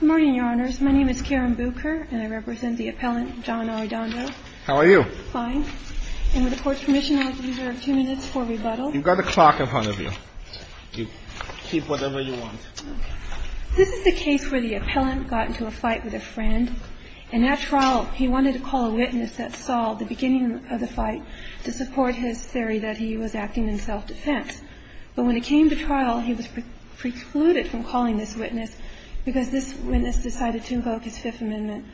Good morning, Your Honors. My name is Karen Bucher, and I represent the appellant John Arredondo. How are you? Fine. And with the Court's permission, I would like to reserve two minutes for rebuttal. You've got a clock in front of you. You keep whatever you want. This is the case where the appellant got into a fight with a friend. In that trial, he wanted to call a witness that saw the beginning of the fight to support his theory that he was acting in self-defense. But when it came to trial, he was precluded from calling this witness because this witness decided to invoke his Fifth Amendment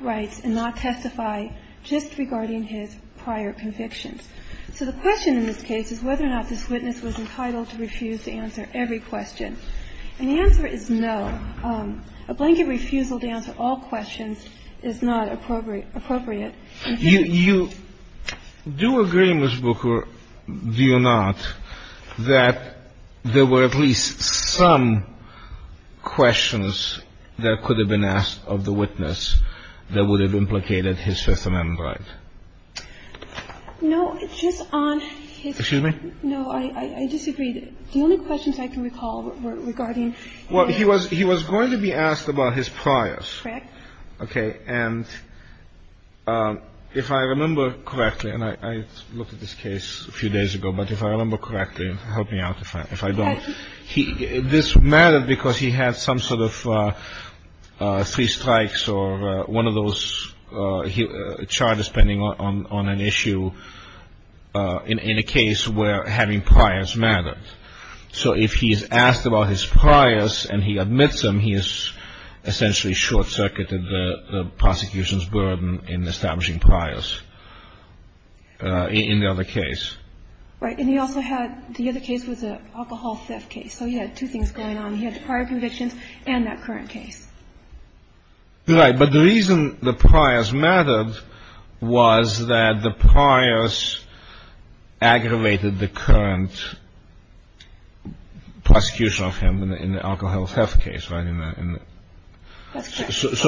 rights and not testify just regarding his prior convictions. So the question in this case is whether or not this witness was entitled to refuse to answer every question. And the answer is no. A blanket refusal to answer all questions is not appropriate. You do agree, Ms. Bucher, do you not, that there were at least some questions that could have been asked of the witness that would have implicated his Fifth Amendment rights? No, just on his – Excuse me? No, I disagree. The only questions I can recall were regarding – Well, he was going to be asked about his priors. Correct. Okay. And if I remember correctly, and I looked at this case a few days ago, but if I remember correctly, help me out if I don't. This mattered because he had some sort of three strikes or one of those charges pending on an issue in a case where having priors mattered. So if he is asked about his priors and he admits them, he has essentially short-circuited the prosecution's burden in establishing priors in the other case. Right. And he also had – the other case was an alcohol theft case. So he had two things going on. He had the prior convictions and that current case. Right. But the reason the priors mattered was that the priors aggravated the current prosecution of him in the alcohol theft case, right? That's correct.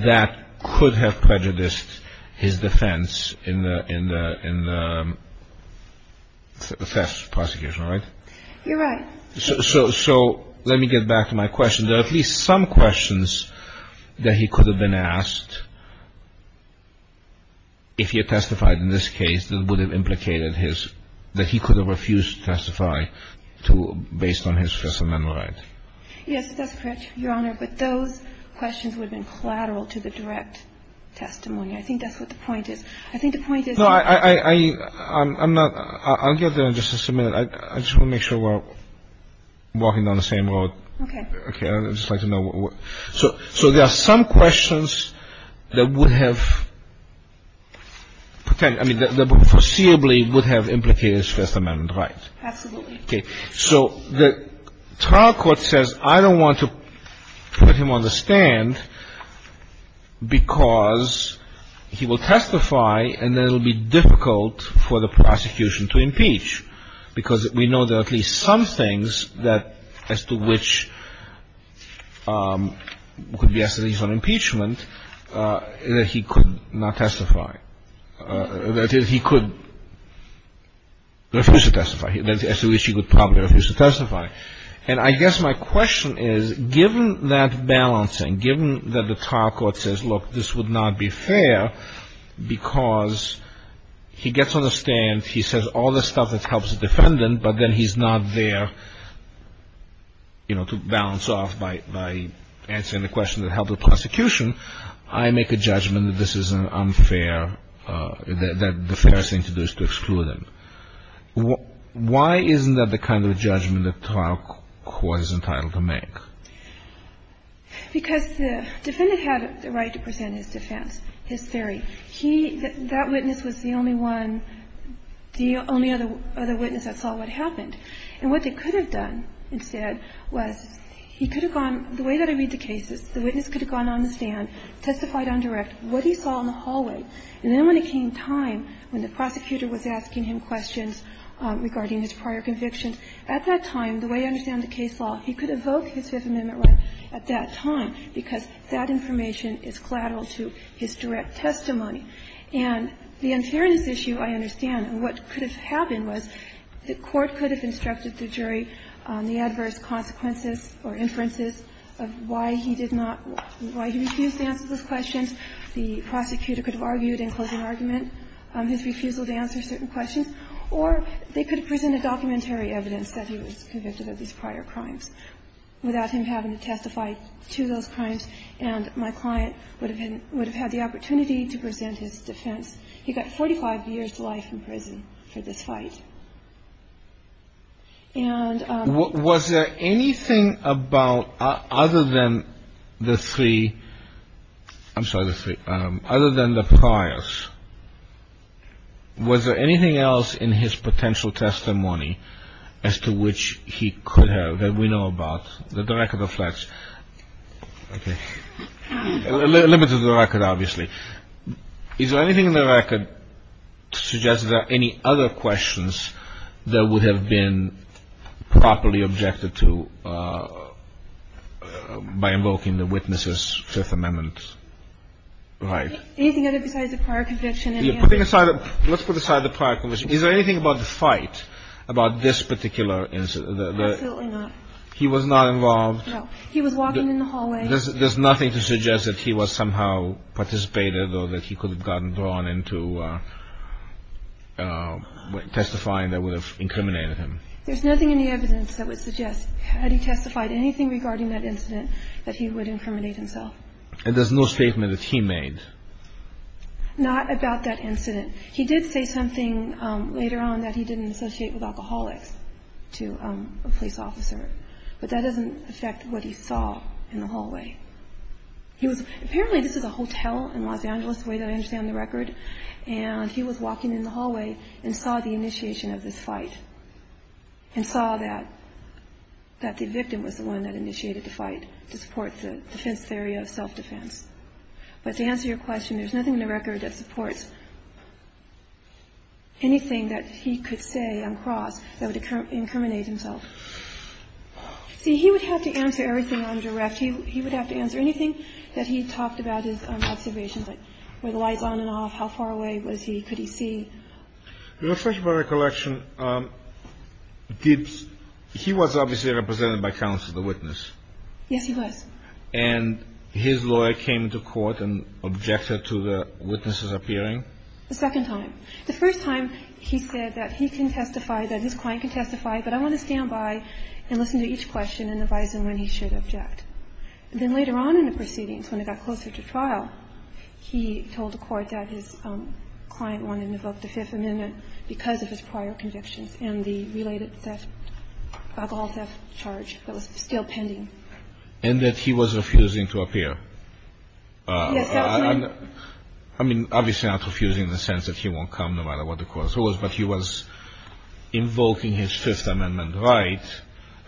That could have prejudiced his defense in the theft prosecution, right? You're right. So let me get back to my question. There are at least some questions that he could have been asked if he had testified in this case that would have implicated his – that he could have refused to testify based on his first amendment right. Yes, that's correct, Your Honor. But those questions would have been collateral to the direct testimony. I think that's what the point is. I think the point is – No, I'm not – I'll get there in just a minute. I just want to make sure we're walking down the same road. Okay. Okay. I'd just like to know what – so there are some questions that would have – I mean, that foreseeably would have implicated his first amendment right. Absolutely. Okay. So the trial court says, I don't want to put him on the stand because he will testify and then it will be difficult for the prosecution to impeach, because we know there are at least some things that – as to which could be established on impeachment that he could not testify, that is, he could refuse to testify, as to which he would probably refuse to testify. And I guess my question is, given that balancing, given that the trial court says, look, this would not be fair because he gets on the stand, he says all the stuff that helps the defendant, but then he's not there, you know, to balance off by answering the question that helped the prosecution, I make a judgment that this is unfair, that the fair thing to do is to exclude him. Why isn't that the kind of judgment the trial court is entitled to make? Because the defendant had the right to present his defense, his theory. He – that witness was the only one – the only other witness that saw what happened. And what they could have done instead was he could have gone – the way that I read the cases, the witness could have gone on the stand, testified on direct what he saw in the hallway, and then when it came time, when the prosecutor was asking him questions regarding his prior convictions, at that time, the way I understand the case law, he could evoke his Fifth Amendment right at that time because that information is collateral to his direct testimony. And the unfairness issue, I understand, and what could have happened was the court could have instructed the jury on the adverse consequences or inferences of why he did not – why he refused to answer those questions, the prosecutor could have argued in closing argument his refusal to answer certain questions, or they could have presented documentary evidence that he was convicted of these prior crimes without him having to testify to those crimes, and my client would have had the opportunity to present his defense. He got 45 years' life in prison for this fight. And – Was there anything about – other than the three – I'm sorry, the three – other than the priors, was there anything else in his potential testimony as to which he could have that we know about, the record of threats? Okay. Limited the record, obviously. Is there anything in the record to suggest that there are any other questions that would have been properly objected to by invoking the witness's Fifth Amendment right? Anything other besides the prior conviction? Let's put aside the prior conviction. Is there anything about the fight, about this particular incident? Absolutely not. He was not involved? No. He was walking in the hallway. There's nothing to suggest that he was somehow participated or that he could have gotten drawn into testifying that would have incriminated him? There's nothing in the evidence that would suggest, had he testified anything regarding that incident, that he would incriminate himself. And there's no statement that he made? Not about that incident. He did say something later on that he didn't associate with alcoholics, to a police officer. But that doesn't affect what he saw in the hallway. Apparently this is a hotel in Los Angeles, the way that I understand the record, and he was walking in the hallway and saw the initiation of this fight, and saw that the victim was the one that initiated the fight, to support the defense theory of self-defense. But to answer your question, there's nothing in the record that supports anything that he could say on cross that would incriminate himself. See, he would have to answer everything on direct. He would have to answer anything that he talked about his observations, like were the lights on and off, how far away was he, could he see. Let's talk about recollection. He was obviously represented by counsel, the witness. Yes, he was. And his lawyer came to court and objected to the witnesses appearing? The second time. The first time he said that he can testify, that his client can testify, but I want to stand by and listen to each question and advise him when he should object. And then later on in the proceedings, when it got closer to trial, he told the court that his client wanted to invoke the Fifth Amendment because of his prior convictions and the related theft, alcohol theft charge that was still pending. And that he was refusing to appear? Yes. I mean, obviously not refusing in the sense that he won't come, no matter what the cause was, but he was invoking his Fifth Amendment right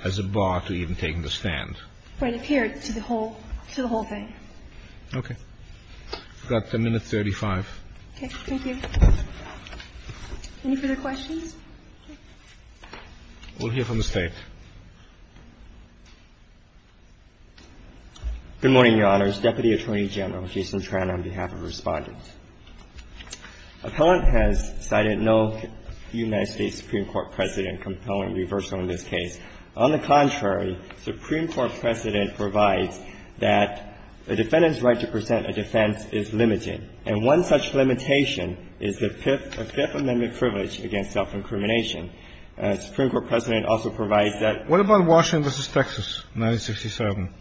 as a bar to even taking the stand. Right here to the whole thing. Okay. You've got a minute 35. Okay. Thank you. Any further questions? We'll hear from the State. Good morning, Your Honors. Deputy Attorney General Jason Tran on behalf of Respondents. Appellant has cited no United States Supreme Court precedent compelling reversal in this case. On the contrary, Supreme Court precedent provides that a defendant's right to present a defense is limited. And one such limitation is the Fifth Amendment privilege against self-incrimination. Supreme Court precedent also provides that. What about Washington v. Texas, 1967?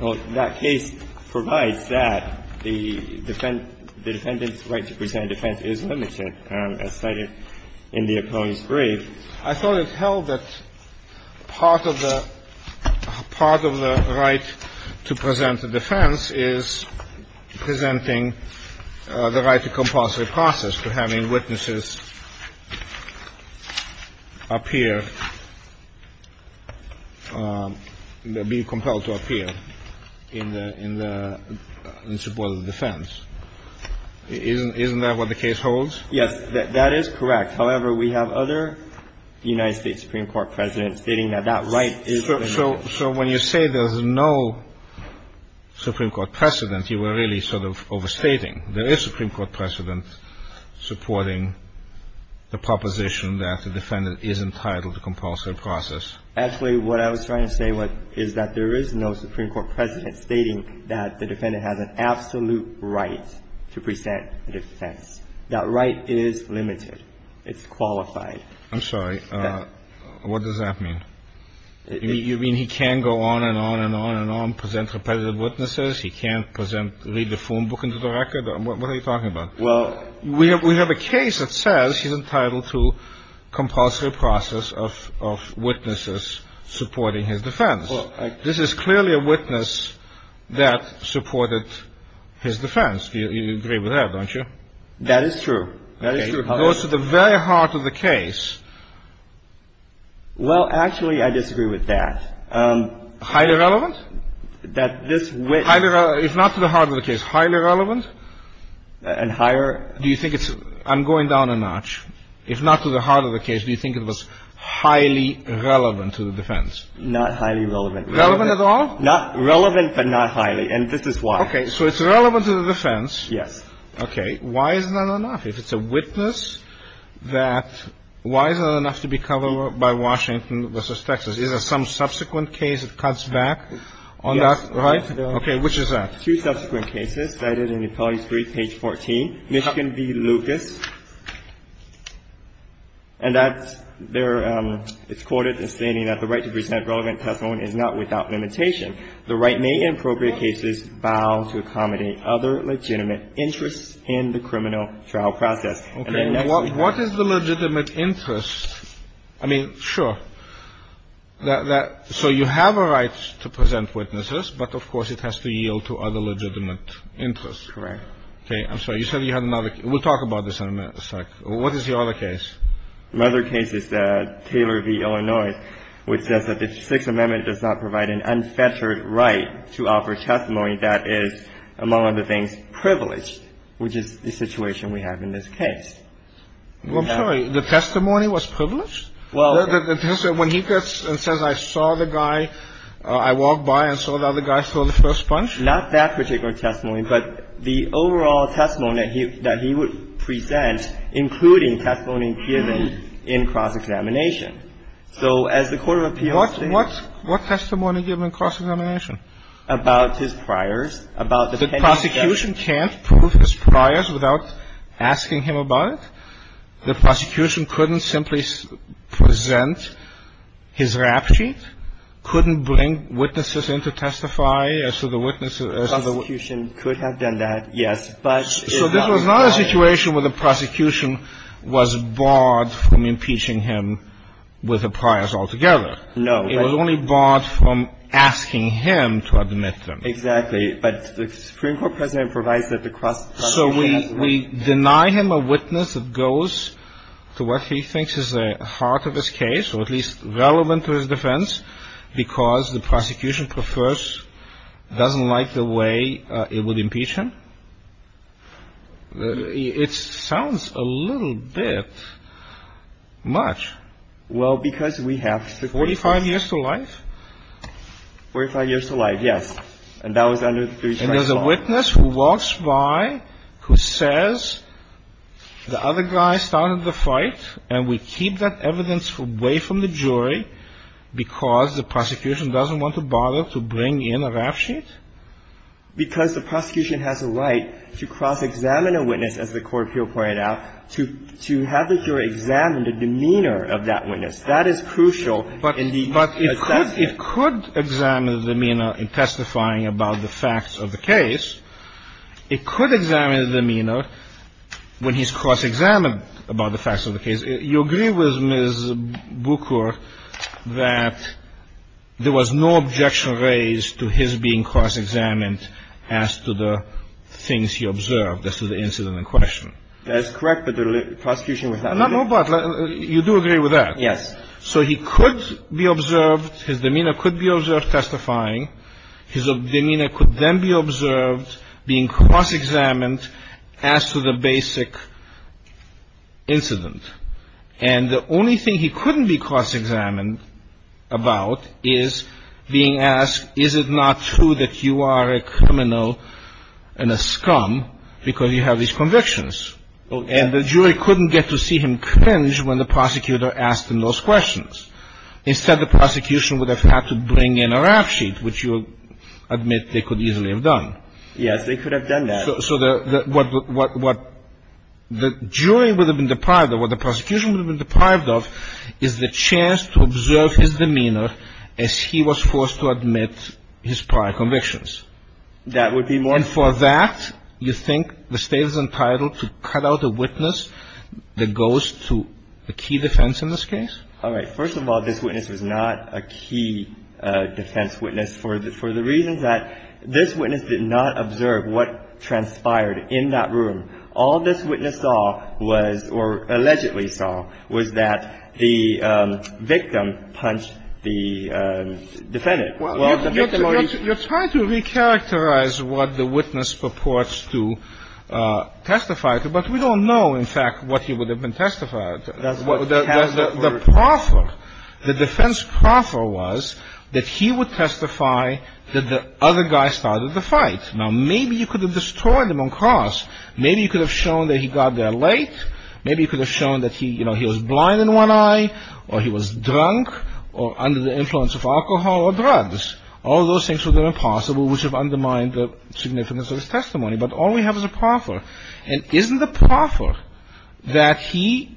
Well, that case provides that the defendant's right to present a defense is limited, as cited in the opponent's brief. I thought it held that part of the right to present a defense is presenting the right to compulsory process, to having witnesses appear, be compelled to appear in support of the defense. Isn't that what the case holds? Yes. That is correct. However, we have other United States Supreme Court precedents stating that that right is limited. So when you say there's no Supreme Court precedent, you were really sort of overstating. There is Supreme Court precedent supporting the proposition that the defendant is entitled to compulsory process. Actually, what I was trying to say is that there is no Supreme Court precedent stating that the defendant has an absolute right to present a defense. That right is limited. It's qualified. I'm sorry. What does that mean? You mean he can go on and on and on and on, present repetitive witnesses? He can't present, read the phone book into the record? What are you talking about? Well, we have a case that says he's entitled to compulsory process of witnesses supporting his defense. This is clearly a witness that supported his defense. You agree with that, don't you? That is true. That is true. It goes to the very heart of the case. Well, actually, I disagree with that. Highly relevant? If not to the heart of the case, highly relevant? And higher? Do you think it's – I'm going down a notch. If not to the heart of the case, do you think it was highly relevant to the defense? Not highly relevant. Relevant at all? Relevant but not highly, and this is why. Okay. So it's relevant to the defense. Yes. Okay. Why is that enough? If it's a witness that – why is that enough to be covered by Washington v. Texas? Because these are some subsequent case that cuts back on that, right? Yes. Okay. Which is that? Two subsequent cases cited in the appellee's brief, page 14, Michigan v. Lucas. And that's their – it's quoted as stating that the right to present relevant testimony is not without limitation. The right may, in appropriate cases, bow to accommodate other legitimate interests in the criminal trial process. Okay. What is the legitimate interest? I mean, sure. So you have a right to present witnesses, but, of course, it has to yield to other legitimate interests. Correct. Okay. I'm sorry. You said you had another – we'll talk about this in a minute. What is the other case? Another case is Taylor v. Illinois, which says that the Sixth Amendment does not provide an unfettered right to offer testimony that is, among other things, privileged, which is the situation we have in this case. Well, I'm sorry. The testimony was privileged? Well – When he gets and says, I saw the guy, I walked by and saw the other guy throw the first punch? Not that particular testimony, but the overall testimony that he would present, including testimony given in cross-examination. So as the court of appeals – What testimony given in cross-examination? About his priors, about the pending – The prosecution can't prove his priors without asking him about it. The prosecution couldn't simply present his rap sheet, couldn't bring witnesses in to testify as to the witnesses – The prosecution could have done that, yes, but – So this was not a situation where the prosecution was barred from impeaching him with the priors altogether. No. It was only barred from asking him to admit them. Exactly. But the Supreme Court precedent provides that the cross-examination – So we deny him a witness that goes to what he thinks is the heart of his case, or at least relevant to his defense, because the prosecution prefers – doesn't like the way it would impeach him? It sounds a little bit much. Well, because we have – 45 years to life? 45 years to life, yes. And that was under the three-charge law. And there's a witness who walks by who says the other guy started the fight, and we keep that evidence away from the jury because the prosecution doesn't want to bother to bring in a rap sheet? Because the prosecution has a right to cross-examine a witness, as the court of appeals pointed out, to have the jury examine the demeanor of that witness. That is crucial in the – But it could examine the demeanor in testifying about the facts of the case. It could examine the demeanor when he's cross-examined about the facts of the case. You agree with Ms. Bucher that there was no objection raised to his being cross-examined as to the things he observed as to the incident in question? That is correct, but the prosecution was not – No, but you do agree with that. Yes. So he could be observed – his demeanor could be observed testifying. His demeanor could then be observed being cross-examined as to the basic incident. And the only thing he couldn't be cross-examined about is being asked, is it not true that you are a criminal and a scum because you have these convictions? And the jury couldn't get to see him cringe when the prosecutor asked him those questions. Instead, the prosecution would have had to bring in a rap sheet, which you admit they could easily have done. Yes, they could have done that. So what the jury would have been deprived of, what the prosecution would have been deprived of, is the chance to observe his demeanor as he was forced to admit his prior convictions. That would be more – And for that, you think the State is entitled to cut out a witness that goes to a key defense in this case? All right. First of all, this witness was not a key defense witness for the reasons that this witness did not observe what transpired in that room. All this witness saw was – or allegedly saw – was that the victim punched the defendant. You're trying to recharacterize what the witness purports to testify to, but we don't know, in fact, what he would have been testified to. The proffer, the defense proffer was that he would testify that the other guy started the fight. Now, maybe you could have destroyed him on cross. Maybe you could have shown that he got there late. Maybe you could have shown that he was blind in one eye or he was drunk or under the influence of alcohol or drugs. All those things would have been impossible, which would have undermined the significance of his testimony. But all we have is a proffer. And isn't the proffer that he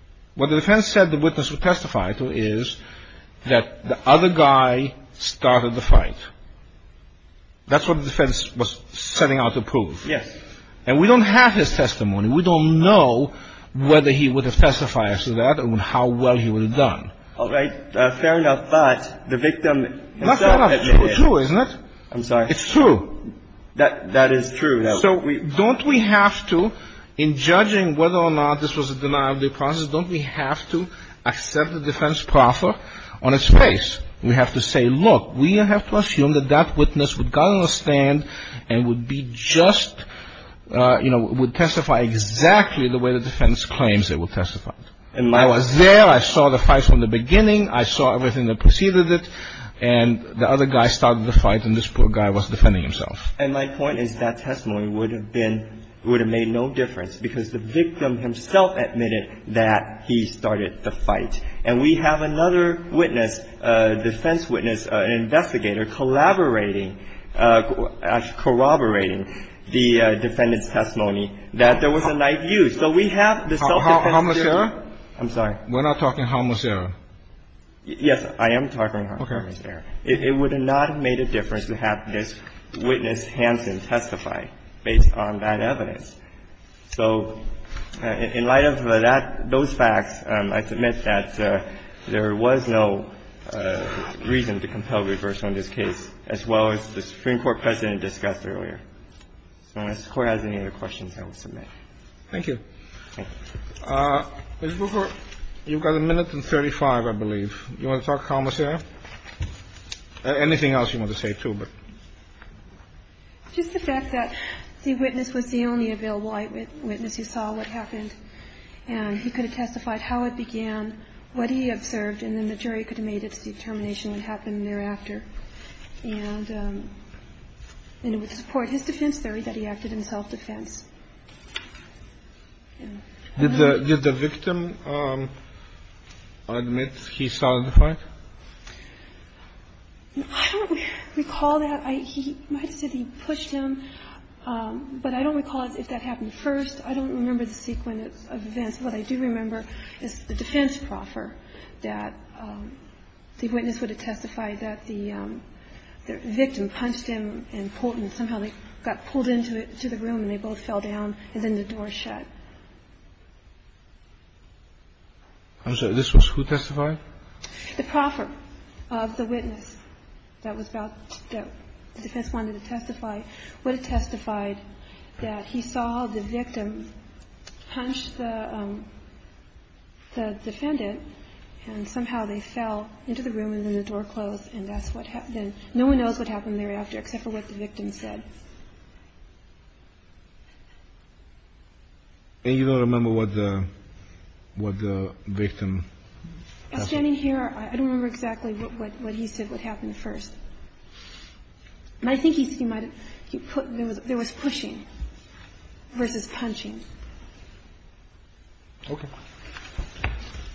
– what the defense said the witness would testify to is that the other guy started the fight. That's what the defense was setting out to prove. Yes. And we don't have his testimony. We don't know whether he would have testified to that and how well he would have done. All right. Fair enough. But the victim himself – Fair enough. It's true, isn't it? I'm sorry. It's true. That is true. So don't we have to, in judging whether or not this was a denial of due process, don't we have to accept the defense proffer on its face? We have to say, look, we have to assume that that witness would got on a stand and would be just, you know, would testify exactly the way the defense claims they would testify. I was there. I saw the fight from the beginning. I saw everything that preceded it. And the other guy started the fight, and this poor guy was defending himself. And my point is that testimony would have been – would have made no difference because the victim himself admitted that he started the fight. And we have another witness, defense witness, an investigator, collaborating – actually corroborating the defendant's testimony that there was a knife use. So we have the self-defense witness. Homicidal? I'm sorry. We're not talking homicidal. Yes, I am talking homicidal. Okay. It would not have made a difference to have this witness, Hanson, testify based on that evidence. So in light of that – those facts, I submit that there was no reason to compel reverse on this case, as well as the Supreme Court precedent discussed earlier. So unless the Court has any other questions, I will submit. Thank you. Thank you. Ms. Booker, you've got a minute and 35, I believe. Do you want to talk commissaire? Anything else you want to say, too? Just the fact that the witness was the only available eyewitness who saw what happened. And he could have testified how it began, what he observed, and then the jury could have made its determination what happened thereafter. And it would support his defense theory that he acted in self-defense. Did the victim admit he started the fight? I don't recall that. He might have said he pushed him. But I don't recall if that happened first. I don't remember the sequence of events. What I do remember is the defense proffer that the witness would have testified that the victim punched him and pulled him. Somehow they got pulled into the room and they both fell down, and then the door shut. I'm sorry. This was who testified? The proffer of the witness that was about to go. The defense wanted to testify, would have testified that he saw the victim punch the defendant, and somehow they fell into the room and then the door closed. And that's what happened. No one knows what happened thereafter except for what the victim said. And you don't remember what the victim said? Standing here, I don't remember exactly what he said would happen first. And I think he said there was pushing versus punching. Okay.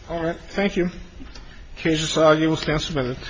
All right. Thank you. Case is argued. We'll stand for a minute.